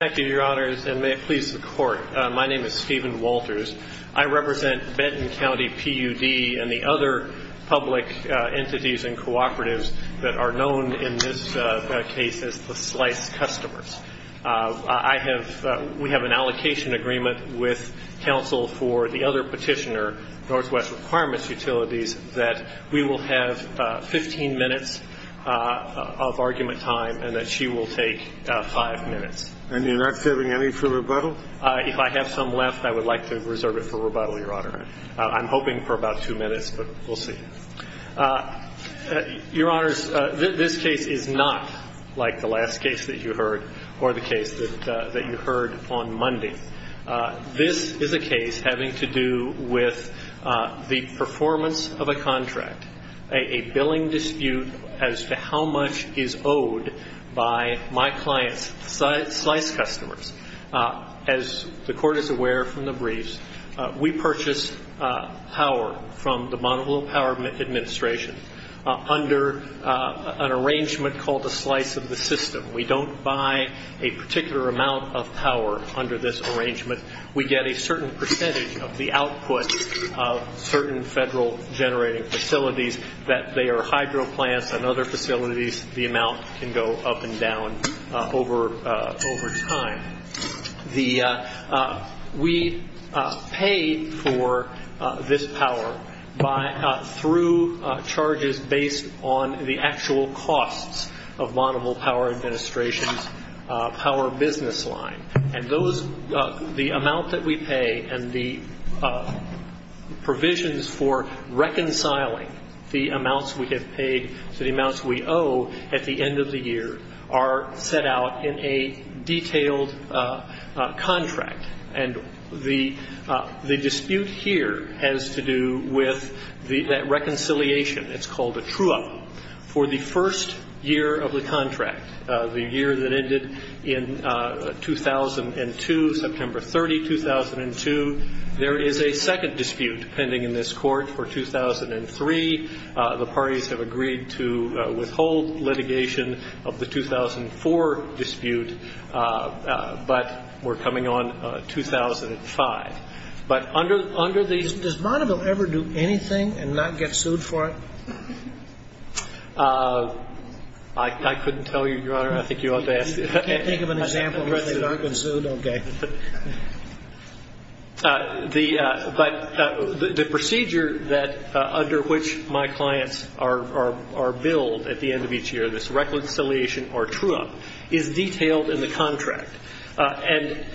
Thank you, Your Honors, and may it please the Court, my name is Stephen Walters. I represent Benton County PUD and the other public entities and cooperatives that are known in this case as the Slice Customers. We have an allocation agreement with counsel for the other petitioner, NW Requirements Utilities, that we will have 15 minutes of argument time and that she will take 5 minutes. And you're not serving any for rebuttal? If I have some left, I would like to reserve it for rebuttal, Your Honor. I'm hoping for about 2 minutes, but we'll see. Your Honors, this case is not like the last case that you heard or the case that you heard on Monday. This is a case having to do with the performance of a contract, a billing dispute as to how much is owed by my client's Slice Customers. As the Court is aware from the briefs, we purchased power from the Bonneville Power Administration under an arrangement called a slice of the system. We don't buy a particular amount of power under this arrangement. We get a certain percentage of the output of certain federal generating facilities that they are hydro plants and other facilities. The amount can go up and down over time. We pay for this power through charges based on the actual costs of Bonneville Power Administration's power business line. The amount that we pay and the provisions for reconciling the amounts we have paid to the amounts we owe at the end of the year are set out in a detailed contract. And the dispute here has to do with that reconciliation. It's called a true-up. For the first year of the contract, the year that ended in 2002, September 30, 2002, there is a second dispute pending in this Court for 2003. The parties have agreed to withhold litigation of the 2004 dispute, but we're coming on 2005. But under the ---- Does Bonneville ever do anything and not get sued for it? I couldn't tell you, Your Honor. I think you ought to ask the President. You can't think of an example where they've not been sued? Okay. But the procedure under which my clients are billed at the end of each year, this reconciliation or true-up, is detailed in the contract. And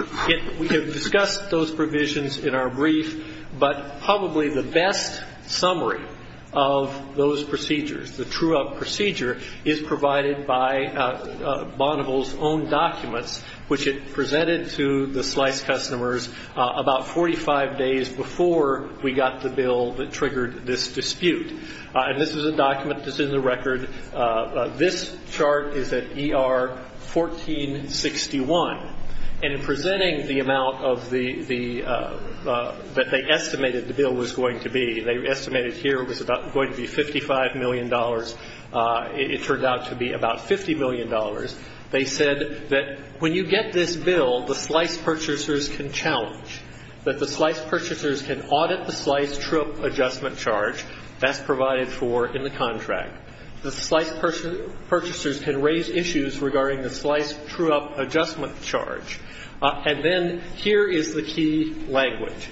we have discussed those provisions in our brief, but probably the best summary of those procedures, the true-up procedure, is provided by Bonneville's own documents, which it presented to the Slice customers about 45 days before we got the bill that triggered this dispute. And this is a document that's in the record. This chart is at ER 1461. And in presenting the amount of the ---- that they estimated the bill was going to be, they estimated here it was about going to be $55 million. It turned out to be about $50 million. They said that when you get this bill, the Slice purchasers can challenge, that the Slice purchasers can audit the Slice true-up adjustment charge. That's provided for in the contract. The Slice purchasers can raise issues regarding the Slice true-up adjustment charge. And then here is the key language.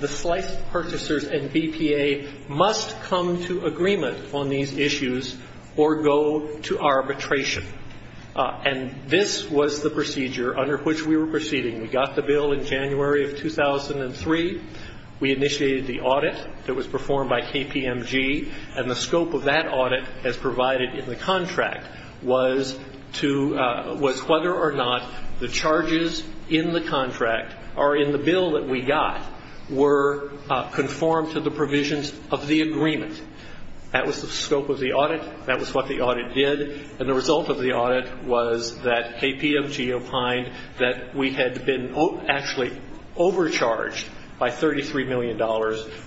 The Slice purchasers and BPA must come to agreement on these issues or go to arbitration. And this was the procedure under which we were proceeding. We got the bill in January of 2003. We initiated the audit that was performed by KPMG. And the scope of that audit, as provided in the contract, was whether or not the charges in the contract or in the bill that we got were conformed to the provisions of the agreement. That was the scope of the audit. That was what the audit did. And the result of the audit was that KPMG opined that we had been actually overcharged by $33 million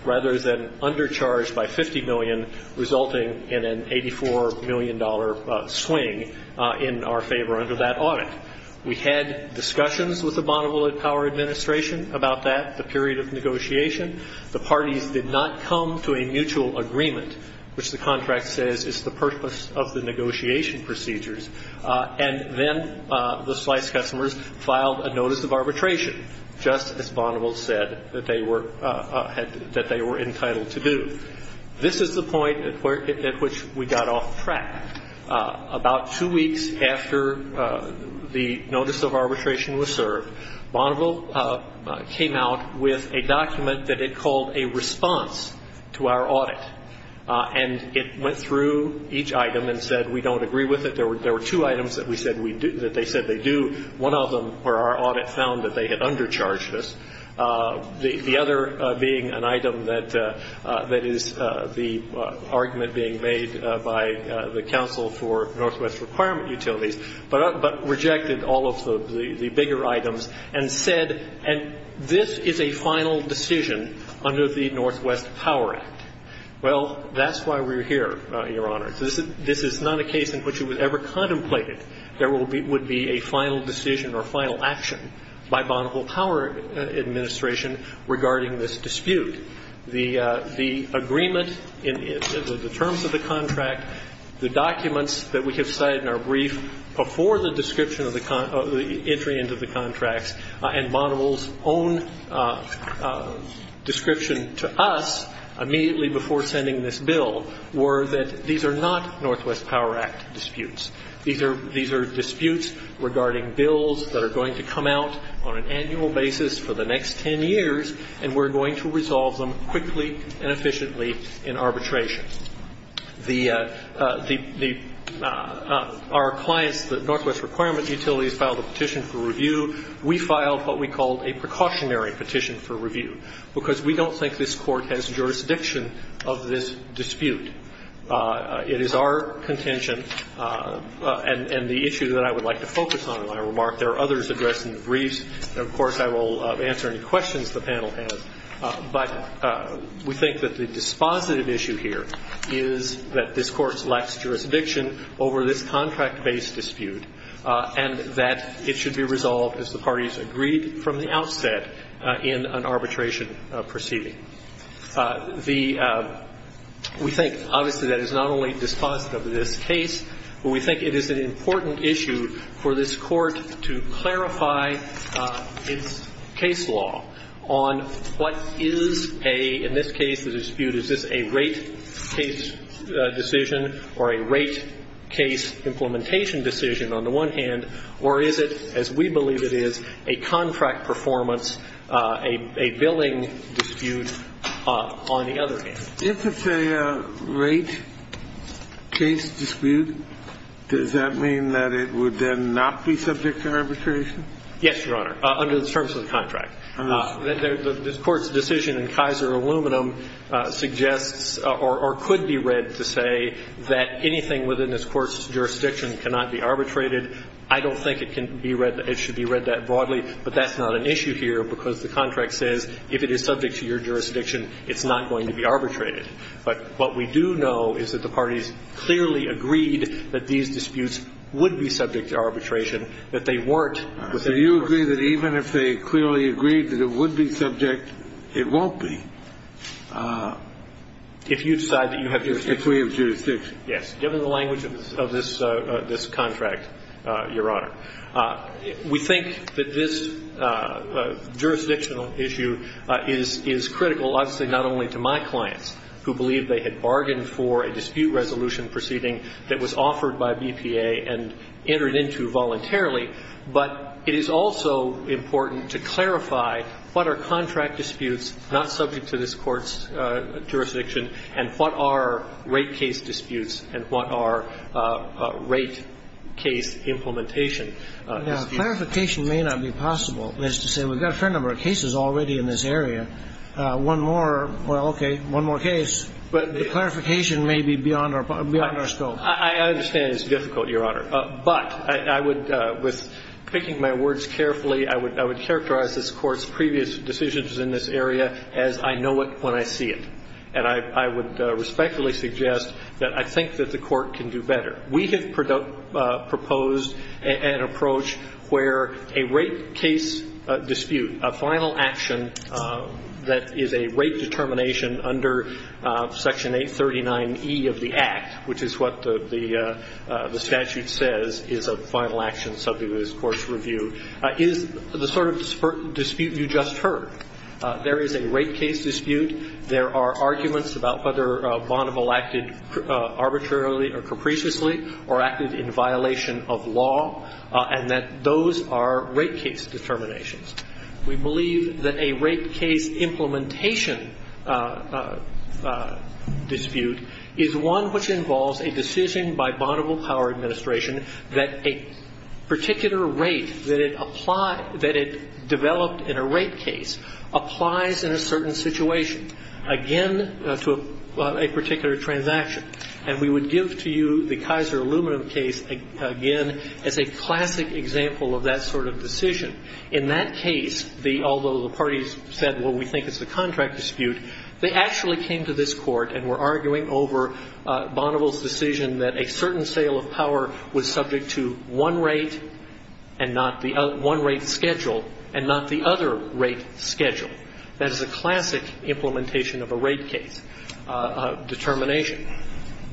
rather than undercharged by $50 million, resulting in an $84 million swing in our favor under that audit. We had discussions with the Bonneville Power Administration about that, the period of negotiation. The parties did not come to a mutual agreement, which the contract says is the purpose of the negotiation procedures. And then the Slice customers filed a notice of arbitration, just as Bonneville said that they were entitled to do. This is the point at which we got off track. About two weeks after the notice of arbitration was served, Bonneville came out with a document that it called a response to our audit. And it went through each item and said, we don't agree with it. There were two items that they said they do. One of them were our audit found that they had undercharged us. The other being an item that is the argument being made by the Council for Northwest Requirement Utilities, but rejected all of the bigger items and said, and this is a final decision under the Northwest Power Act. Well, that's why we're here, Your Honor. This is not a case in which it was ever contemplated there would be a final decision or final action by Bonneville Power Administration regarding this dispute. The agreement, the terms of the contract, the documents that we have cited in our brief, before the description of the entry into the contracts, and Bonneville's own description to us immediately before sending this bill, were that these are not Northwest Power Act disputes. These are disputes regarding bills that are going to come out on an annual basis for the next ten years, and we're going to resolve them quickly and efficiently in arbitration. The – our clients, the Northwest Requirement Utilities, filed a petition for review. We filed what we called a precautionary petition for review, because we don't think that this Court has jurisdiction of this dispute. It is our contention, and the issue that I would like to focus on in my remark. There are others addressed in the briefs. Of course, I will answer any questions the panel has. But we think that the dispositive issue here is that this Court lacks jurisdiction over this contract-based dispute, and that it should be resolved, as the parties agreed from the outset, in an arbitration proceeding. The – we think, obviously, that is not only dispositive of this case, but we think it is an important issue for this Court to clarify its case law on what is a – in this case, the dispute, is this a rate case decision or a rate case implementation decision on the one hand, or is it, as we believe it is, a contract performance, a billing dispute on the other hand? If it's a rate case dispute, does that mean that it would then not be subject to arbitration? Yes, Your Honor, under the terms of the contract. This Court's decision in Kaiser Aluminum suggests or could be read to say that anything within this Court's jurisdiction cannot be arbitrated. I don't think it can be read – it should be read that broadly, but that's not an issue here because the contract says if it is subject to your jurisdiction, it's not going to be arbitrated. But what we do know is that the parties clearly agreed that these disputes would be subject to arbitration, that they weren't within the Court's jurisdiction. So you agree that even if they clearly agreed that it would be subject, it won't be? If you decide that you have jurisdiction. If we have jurisdiction. Yes, given the language of this contract, Your Honor. We think that this jurisdictional issue is critical, obviously, not only to my clients, who believe they had bargained for a dispute resolution proceeding that was offered by BPA and entered into voluntarily, but it is also important to clarify what are contract disputes and what are rate case implementation disputes. Clarification may not be possible. That is to say, we've got a fair number of cases already in this area. One more, well, okay, one more case. But the clarification may be beyond our scope. I understand it's difficult, Your Honor. But I would, with picking my words carefully, I would characterize this Court's previous decisions in this area as I know it when I see it. And I would respectfully suggest that I think that the Court can do better. We have proposed an approach where a rate case dispute, a final action that is a rate determination under Section 839e of the Act, which is what the statute says is a final action subject of this Court's review, is the sort of dispute you just heard. There is a rate case dispute. There are arguments about whether Bonneville acted arbitrarily or capriciously or acted in violation of law, and that those are rate case determinations. We believe that a rate case implementation dispute is one which involves a decision by Bonneville Power Administration that a particular rate that it applied, that it to a particular transaction. And we would give to you the Kaiser Aluminum case again as a classic example of that sort of decision. In that case, although the parties said, well, we think it's a contract dispute, they actually came to this Court and were arguing over Bonneville's decision that a certain sale of power was subject to one rate and not the other, one rate schedule and not the other rate schedule. That is a classic implementation of a rate case determination.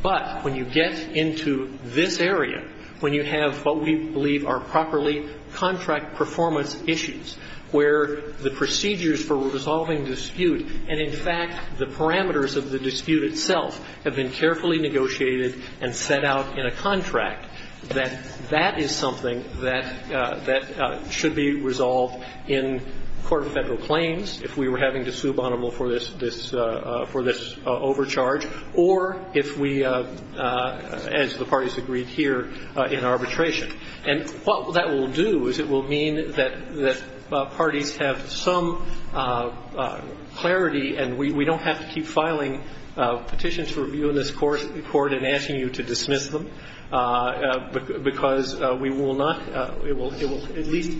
But when you get into this area, when you have what we believe are properly contract performance issues where the procedures for resolving dispute and, in fact, the parameters of the dispute itself have been carefully negotiated and set out in a contract, that that is something that should be resolved in court of Federal claims if we were having to sue Bonneville for this overcharge or if we, as the parties agreed here, in arbitration. And what that will do is it will mean that parties have some clarity and we don't have to keep filing petitions for review in this Court and asking you to dismiss them because we will not, it will at least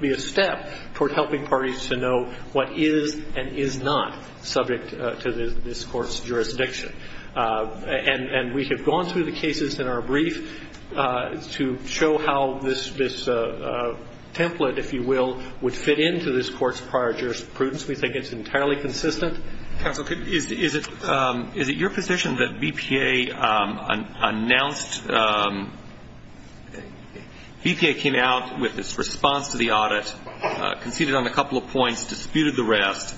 be a step toward helping parties to know what is and is not subject to this Court's jurisdiction. And we have gone through the cases in our brief to show how this template, if you will, would fit into this Court's prior jurisprudence. We think it's entirely consistent. Counsel, is it your position that BPA announced, BPA came out with its response to the audit, conceded on a couple of points, disputed the rest,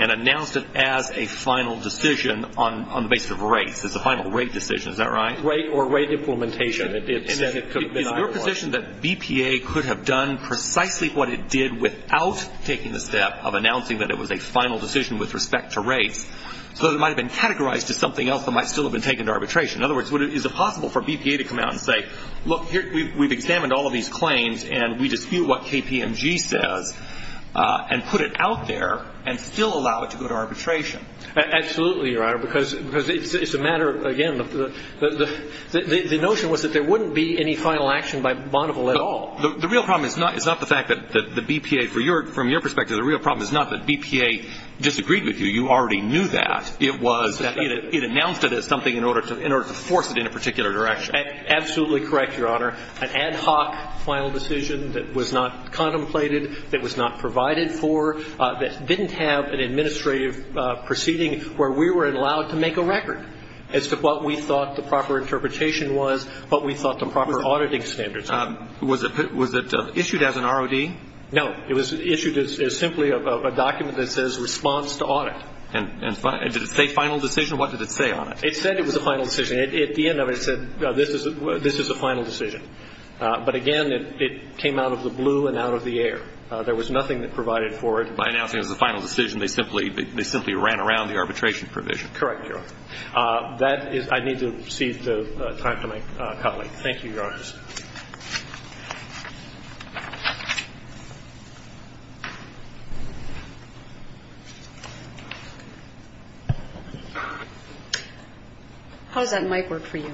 and announced it as a final decision on the basis of rates, as a final rate decision, is that right? Rate or rate implementation. Is it your position that BPA could have done precisely what it did without taking the step of announcing that it was a final decision with respect to rates so that it might have been categorized as something else that might still have been taken to arbitration? In other words, is it possible for BPA to come out and say, look, we've examined all of these claims and we dispute what KPMG says and put it out there and still allow it to go to arbitration? Absolutely, Your Honor, because it's a matter of, again, the notion was that there wouldn't be any final action by Bonneville at all. The real problem is not the fact that the BPA, from your perspective, the real problem is not that BPA disagreed with you. You already knew that. It was that it announced it as something in order to force it in a particular direction. Absolutely correct, Your Honor. An ad hoc final decision that was not contemplated, that was not provided for, that didn't have an administrative proceeding where we were allowed to make a record as to what we thought the proper interpretation was, what we thought the proper auditing standards were. Was it issued as an ROD? No. It was issued as simply a document that says response to audit. And did it say final decision? What did it say on it? It said it was a final decision. At the end of it, it said this is a final decision. But, again, it came out of the blue and out of the air. There was nothing that provided for it. By announcing it as a final decision, they simply ran around the arbitration provision. Correct, Your Honor. That is – I need to cede the time to my colleague. Thank you, Your Honor. Thank you, Justice. How does that mic work for you?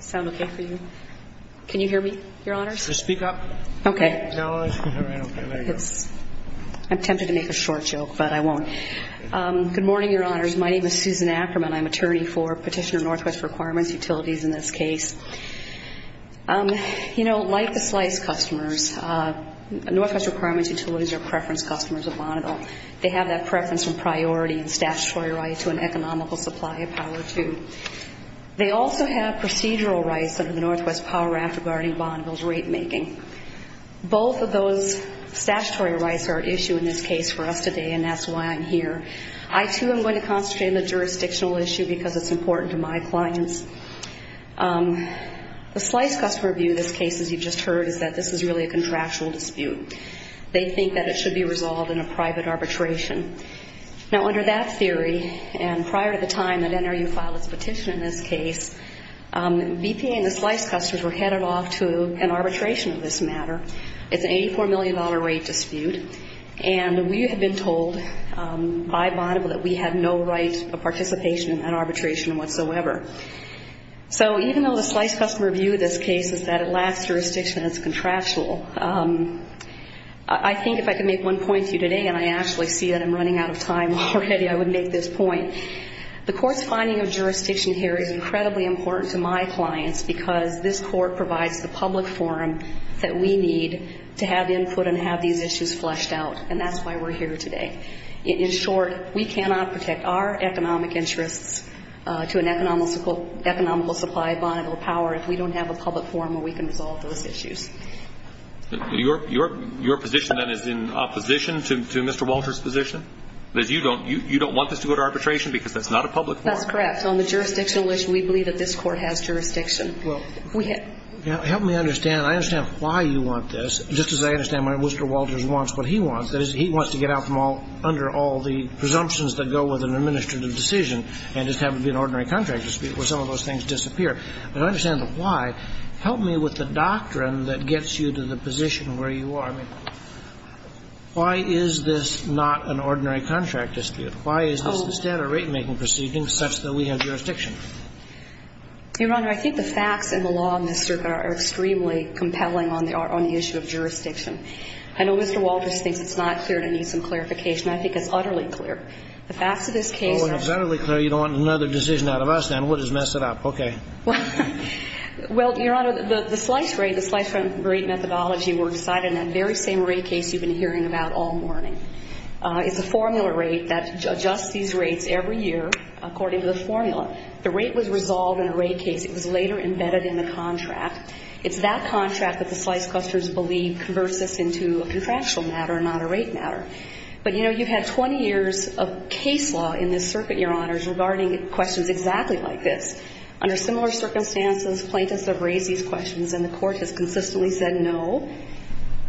Sound okay for you? Can you hear me, Your Honors? Just speak up. Okay. No. All right. Okay. There you go. I'm tempted to make a short joke, but I won't. Good morning, Your Honors. My name is Susan Ackerman. I'm attorney for Petitioner Northwest Requirements Utilities in this case. You know, like the slice customers, Northwest Requirements Utilities are preference customers of Bonneville. They have that preference and priority in statutory rights to an economical supply of power, too. They also have procedural rights under the Northwest Power Act regarding Bonneville's rate making. Both of those statutory rights are at issue in this case for us today, and that's why I'm here. I, too, am going to concentrate on the jurisdictional issue because it's important to my clients. The slice customer view in this case, as you just heard, is that this is really a contractual dispute. They think that it should be resolved in a private arbitration. Now, under that theory, and prior to the time that NRU filed its petition in this case, BPA and the slice customers were headed off to an arbitration of this matter. It's an $84 million rate dispute, and we have been told by Bonneville that we have no right of participation in that arbitration whatsoever. So even though the slice customer view of this case is that it lacks jurisdiction, it's contractual, I think if I could make one point to you today, and I actually see that I'm running out of time already, I would make this point. The court's finding of jurisdiction here is incredibly important to my clients because this court provides the public forum that we need to have input and have these issues fleshed out, and that's why we're here today. In short, we cannot protect our economic interests to an economical supply of Bonneville power if we don't have a public forum where we can resolve those issues. Your position, then, is in opposition to Mr. Walters' position? You don't want this to go to arbitration because that's not a public forum? That's correct. On the jurisdictional issue, we believe that this court has jurisdiction. Help me understand. I understand why you want this, just as I understand why Mr. Walters wants what he wants. That is, he wants to get out from under all the presumptions that go with an administrative decision and just have it be an ordinary contract dispute where some of those things disappear. I don't understand the why. Help me with the doctrine that gets you to the position where you are. I mean, why is this not an ordinary contract dispute? Why is this a standard ratemaking proceeding such that we have jurisdiction? Your Honor, I think the facts and the law in this circuit are extremely compelling on the issue of jurisdiction. I know Mr. Walters thinks it's not clear and needs some clarification. I think it's utterly clear. The facts of this case are so clear. Well, when it's utterly clear, you don't want another decision out of us, then. We'll just mess it up. Okay. Well, Your Honor, the slice rate, the slice rate methodology works side in that very same rate case you've been hearing about all morning. It's a formula rate that adjusts these rates every year according to the formula. The rate was resolved in a rate case. It was later embedded in the contract. It's that contract that the slice clusters believe converts this into a contractual matter, not a rate matter. But, you know, you've had 20 years of case law in this circuit, Your Honors, regarding questions exactly like this. Under similar circumstances, plaintiffs have raised these questions and the court has consistently said no.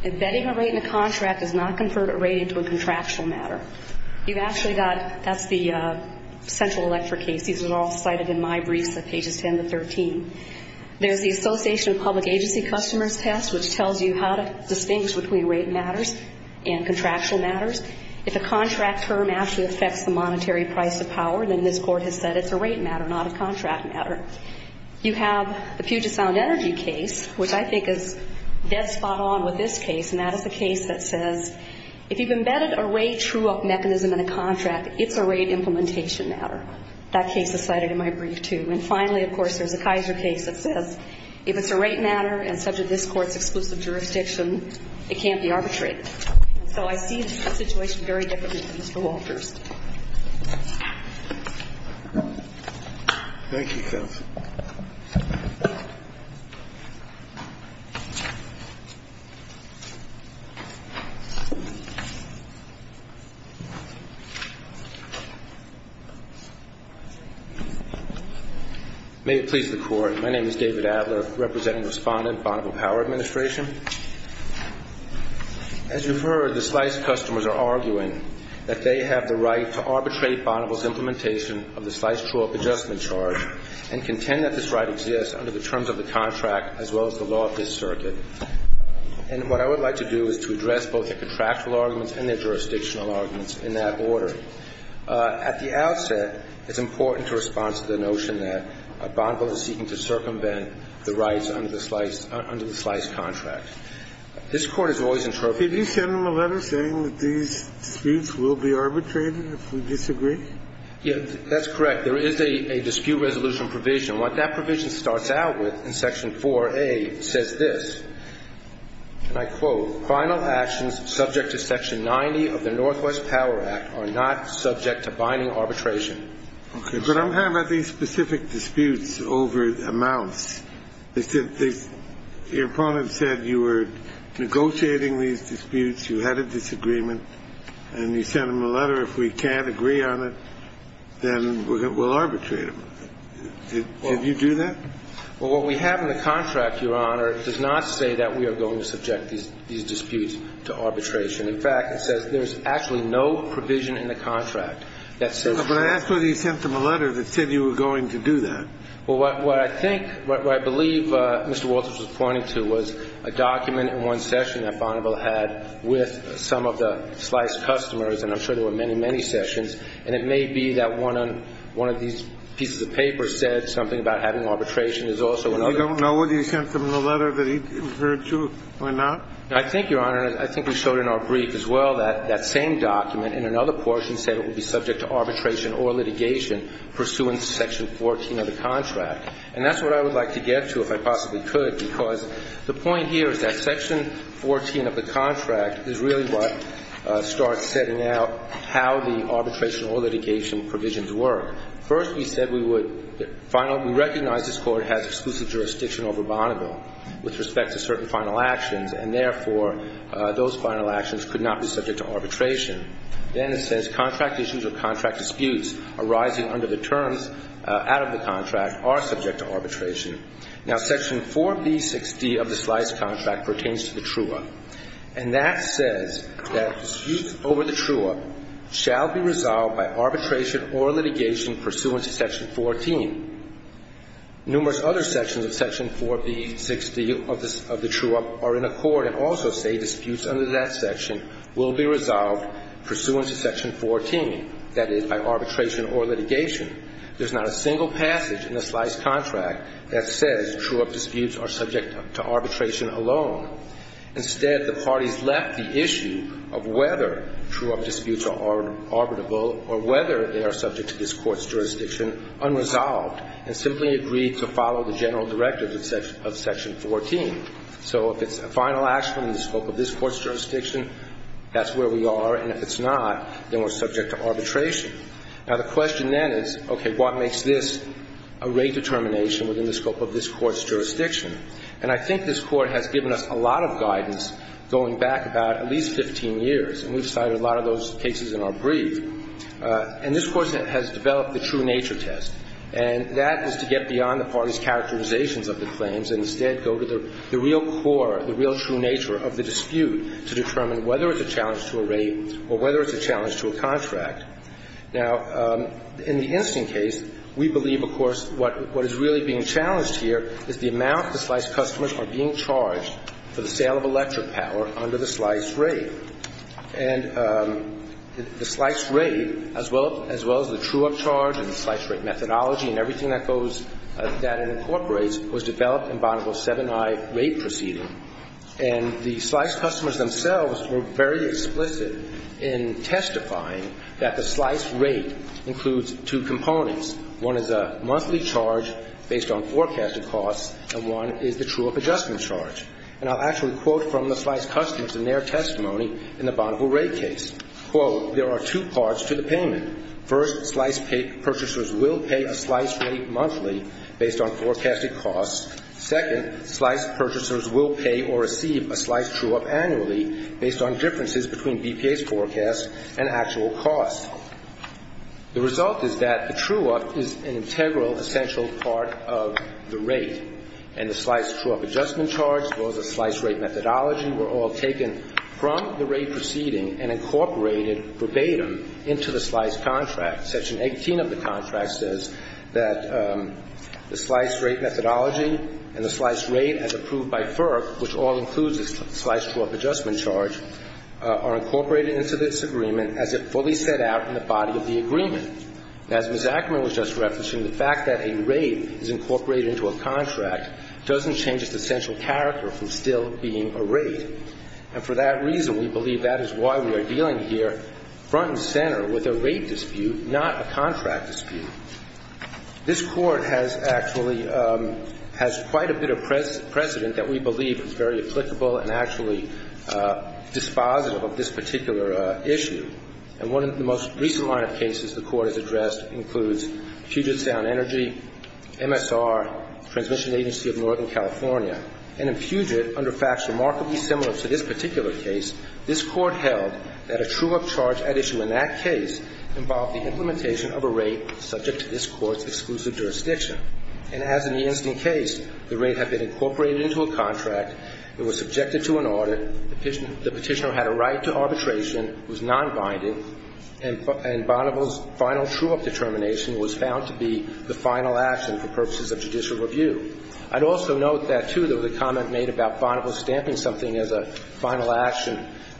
Embedding a rate in a contract does not convert a rate into a contractual matter. You've actually got, that's the Central Electric case. These are all cited in my briefs at pages 10 to 13. There's the Association of Public Agency Customers test, which tells you how to distinguish between rate matters and contractual matters. If a contract term actually affects the monetary price of power, then this court has said it's a rate matter, not a contract matter. You have the Puget Sound Energy case, which I think is dead spot on with this case, and that is a case that says if you've embedded a rate true up mechanism in a contract, it's a rate implementation matter. That case is cited in my brief, too. And finally, of course, there's the Kaiser case that says if it's a rate matter and subject to this court's exclusive jurisdiction, it can't be arbitrated. So I see the situation very differently than Mr. Walters. May it please the court. My name is David Adler, representing the respondent, Bonneville Power Administration. As you've heard, the slice of customers are arguing that they have the right to arbitrate Bonneville's implementation of the slice true up adjustment charge and contend that this right exists under the terms of the contract as well as the law of this circuit. And what I would like to do is to address both their contractual arguments and their jurisdictional arguments in that order. At the outset, it's important to respond to the notion that Bonneville is seeking to circumvent the rights under the slice under the slice contract. This Court has always interpreted this case as a case of arbitration. Mr. Walters. Mr. Chairman, if we disagree? Yeah, that's correct. There is a dispute resolution provision. What that provision starts out with in section 4A says this, and I quote, final actions subject to section 90 of the Northwest Power Act are not subject to binding arbitration. Okay. But I'm having specific disputes over amounts. Your opponent said you were negotiating these disputes, you had a disagreement, and you sent him a letter, if we can't agree on it, then we'll arbitrate them. Did you do that? Well, what we have in the contract, Your Honor, does not say that we are going to subject these disputes to arbitration. In fact, it says there's actually no provision in the contract that says so. But I asked whether you sent him a letter that said you were going to do that. Well, what I think, what I believe Mr. Walters was pointing to was a document in one session that Bonneville had with some of the slice customers, and I'm sure there were many, many sessions, and it may be that one of these pieces of paper said something about having arbitration. There's also another. I don't know whether you sent him the letter that he referred to or not. I think, Your Honor, I think we showed in our brief as well that that same document in another portion said it would be subject to arbitration or litigation pursuant to section 14 of the contract. And that's what I would like to get to if I possibly could, because the point here is that section 14 of the contract is really what starts setting out how the arbitration or litigation provisions work. First, we said we would finally recognize this Court has exclusive jurisdiction over Bonneville with respect to certain final actions, and therefore, those final actions could not be subject to arbitration. Then it says contract issues or contract disputes arising under the terms out of the contract are subject to arbitration. Now, section 4B6D of the slice contract pertains to the true-up. And that says that disputes over the true-up shall be resolved by arbitration or litigation pursuant to section 14. Numerous other sections of section 4B6D of the true-up are in accord and also say disputes under that section will be resolved pursuant to section 14, that is, by arbitration or litigation. There's not a single passage in the slice contract that says true-up disputes are subject to arbitration alone. Instead, the parties left the issue of whether true-up disputes are arbitrable or whether they are subject to this Court's jurisdiction unresolved and simply agreed to follow the general directives of section 14. So if it's a final action in the scope of this Court's jurisdiction, that's where we are. And if it's not, then we're subject to arbitration. Now, the question then is, okay, what makes this a rate determination within the scope of this Court's jurisdiction? And I think this Court has given us a lot of guidance going back about at least 15 years. And we've cited a lot of those cases in our brief. And this Court has developed the true-nature test. And that is to get beyond the parties' characterizations of the claims and instead go to the real core, the real true nature of the dispute to determine whether it's a challenge to a rate or whether it's a challenge to a contract. Now, in the instant case, we believe, of course, what is really being challenged here is the amount the slice customers are being charged for the sale of electric power under the slice rate. And the slice rate, as well as the true-up charge and the slice rate methodology and everything that goes that it incorporates, was developed in Bonneville's 7i rate proceeding. And the slice customers themselves were very explicit in testifying that the slice rate includes two components. One is a monthly charge based on forecasted costs, and one is the true-up adjustment charge. And I'll actually quote from the slice customers in their testimony in the Bonneville rate case. Quote, there are two parts to the payment. First, slice purchasers will pay a slice rate monthly based on forecasted costs. Second, slice purchasers will pay or receive a slice true-up annually based on differences between BPA's forecast and actual costs. The result is that the true-up is an integral, essential part of the rate. And the slice true-up adjustment charge, as well as the slice rate methodology, were all taken from the rate proceeding and incorporated verbatim into the slice contract. Section 18 of the contract says that the slice rate methodology and the slice rate as approved by FERC, which all includes the slice true-up adjustment charge, are incorporated into this agreement as it fully set out in the body of the agreement. As Ms. Ackerman was just referencing, the fact that a rate is incorporated into a contract doesn't change its essential character from still being a rate. And for that reason, we believe that is why we are dealing here front and center with a rate dispute, not a contract dispute. This Court has actually has quite a bit of precedent that we believe is very applicable and actually dispositive of this particular issue. And one of the most recent line of cases the Court has addressed includes Puget Sound Energy, MSR, Transmission Agency of Northern California. And in Puget, under facts remarkably similar to this particular case, this Court held that a true-up charge at issue in that case involved the implementation of a rate subject to this Court's exclusive jurisdiction. And as in the incident case, the rate had been incorporated into a contract. It was subjected to an audit. The Petitioner had a right to arbitration. It was nonbinding. And Bonneville's final true-up determination was found to be the final action for purposes of judicial review. I'd also note that, too, there was a comment made about Bonneville stamping something as a final action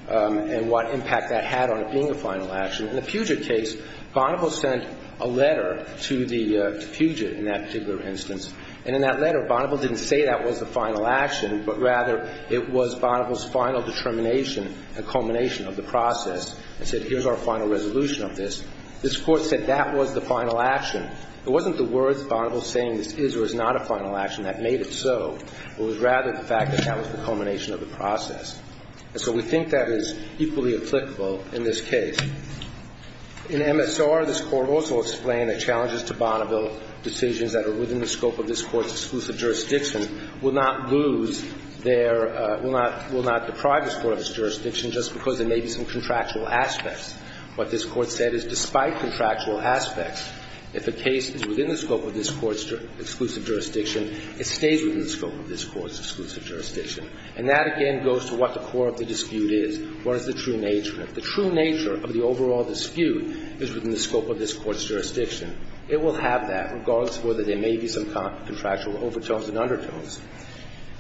and what impact that had on it being a final action. In the Puget case, Bonneville sent a letter to the Puget in that particular instance. And in that letter, Bonneville didn't say that was the final action, but rather it was Bonneville's final determination, a culmination of the process. It said, here's our final resolution of this. This Court said that was the final action. It wasn't the words Bonneville saying this is or is not a final action that made it so. It was rather the fact that that was the culmination of the process. And so we think that is equally applicable in this case. In MSR, this Court also explained the challenges to Bonneville decisions that are within the scope of this Court's exclusive jurisdiction will not lose their – will not deprive this Court of its jurisdiction just because there may be some contractual aspects. What this Court said is despite contractual aspects, if a case is within the scope of this Court's exclusive jurisdiction, it stays within the scope of this Court's exclusive jurisdiction. And that, again, goes to what the core of the dispute is. What is the true nature of it? The true nature of the overall dispute is within the scope of this Court's jurisdiction. It will have that regardless of whether there may be some contractual overtones and undertones.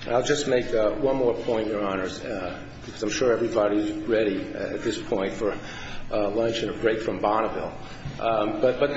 And I'll just make one more point, Your Honors, because I'm sure everybody is ready at this point for lunch and a break from Bonneville. But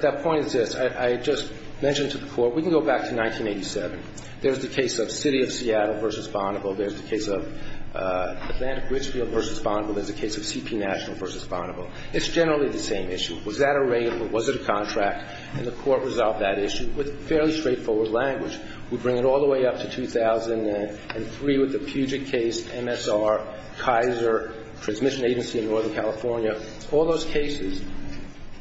that point is this. I just mentioned to the Court, we can go back to 1987. There's the case of City of Seattle v. Bonneville. There's the case of Atlantic Richfield v. Bonneville. There's the case of CP National v. Bonneville. It's generally the same issue. Was that a rate or was it a contract? And the Court resolved that issue with fairly straightforward language. We bring it all the way up to 2003 with the Puget case, MSR, Kaiser, Transmission Agency in Northern California. All those cases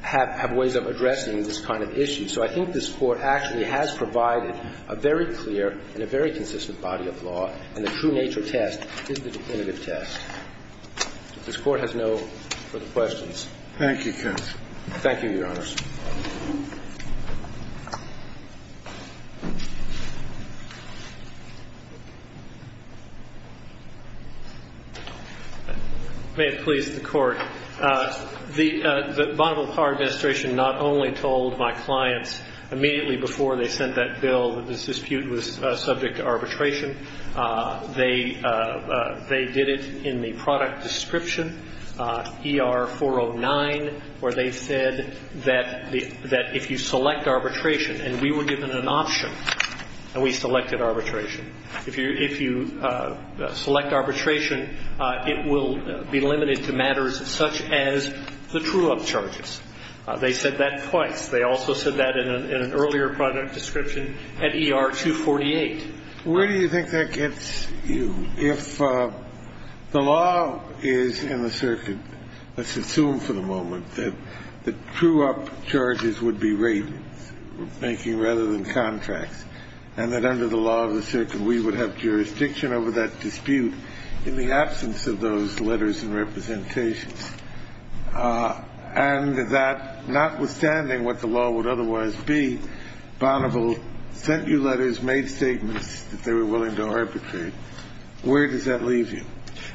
have ways of addressing this kind of issue. So I think this Court actually has provided a very clear and a very consistent body of law, and the true nature test is the definitive test. If this Court has no further questions. Thank you, counsel. Thank you, Your Honors. May it please the Court. The Bonneville Power Administration not only told my clients immediately before they sent that bill that this dispute was subject to arbitration. They did it in the product description, ER-409, where they said that if you select arbitration, and we were given an option and we selected arbitration, if you select arbitration, it will be limited to matters such as the true-up charges. They said that twice. They also said that in an earlier product description at ER-248. Where do you think that gets you? If the law is in the circuit, let's assume for the moment that the true-up charges would be ratings making rather than contracts, and that under the law of the circuit, we would have jurisdiction over that dispute in the absence of those letters and representations, and that notwithstanding what the law would otherwise be, Bonneville sent you letters, made statements that they were willing to arbitrate. Where does that leave you?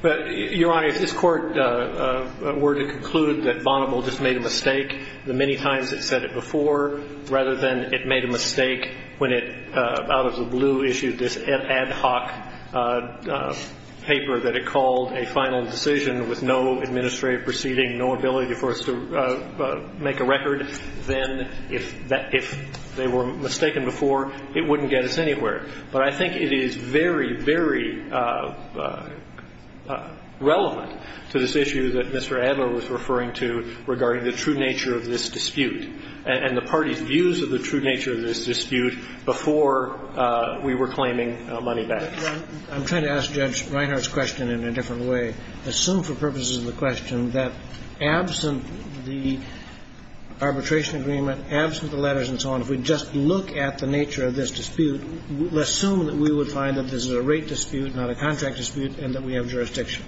Your Honor, if this Court were to conclude that Bonneville just made a mistake the many times it said it before rather than it made a mistake when it, out of the blue, issued this ad hoc paper that it called a final decision with no administrative proceeding, no ability for us to make a record, then if they were mistaken before it wouldn't get us anywhere. But I think it is very, very relevant to this issue that Mr. Adler was referring to regarding the true nature of this dispute and the party's views of the true nature of this dispute before we were claiming money back. I'm trying to ask Judge Reinhart's question in a different way. Assume for purposes of the question that absent the arbitration agreement, absent the letters and so on, if we just look at the nature of this dispute, assume that we would find that this is a rate dispute, not a contract dispute, and that we have jurisdiction.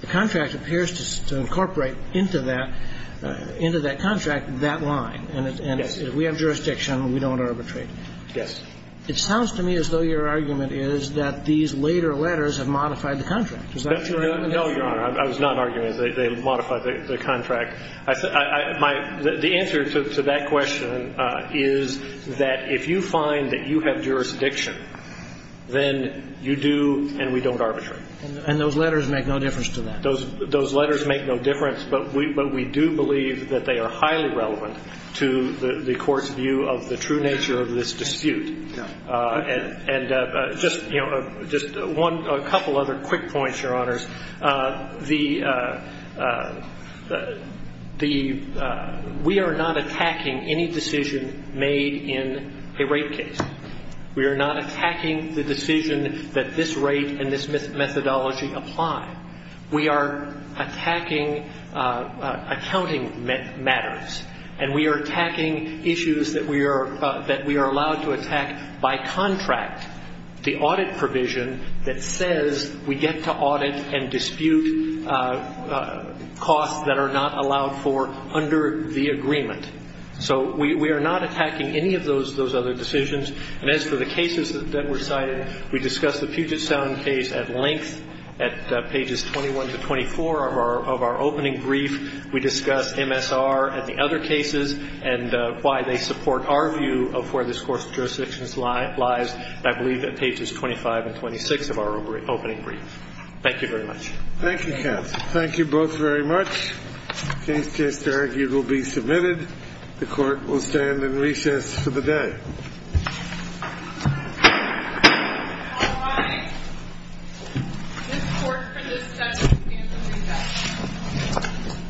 The contract appears to incorporate into that contract that line. And if we have jurisdiction, we don't arbitrate. Yes. It sounds to me as though your argument is that these later letters have modified the contract. Is that true? No, Your Honor. I was not arguing that they modified the contract. The answer to that question is that if you find that you have jurisdiction, then you do and we don't arbitrate. And those letters make no difference to that? Those letters make no difference, but we do believe that they are highly relevant to the court's view of the true nature of this dispute. And just a couple other quick points, Your Honors. We are not attacking any decision made in a rate case. We are not attacking the decision that this rate and this methodology apply. We are attacking accounting matters, and we are attacking issues that we are allowed to attack by contract, the audit provision that says we get to audit and dispute costs that are not allowed for under the agreement. So we are not attacking any of those other decisions. And as for the cases that were cited, we discussed the Puget Sound case at length at pages 21 to 24 of our opening brief. We discussed MSR and the other cases and why they support our view of where this court's jurisdiction lies, I believe, at pages 25 and 26 of our opening brief. Thank you very much. Thank you, counsel. Thank you both very much. The case to be argued will be submitted. The court will stand in recess for the day. All rise. This court for this session stands in recess.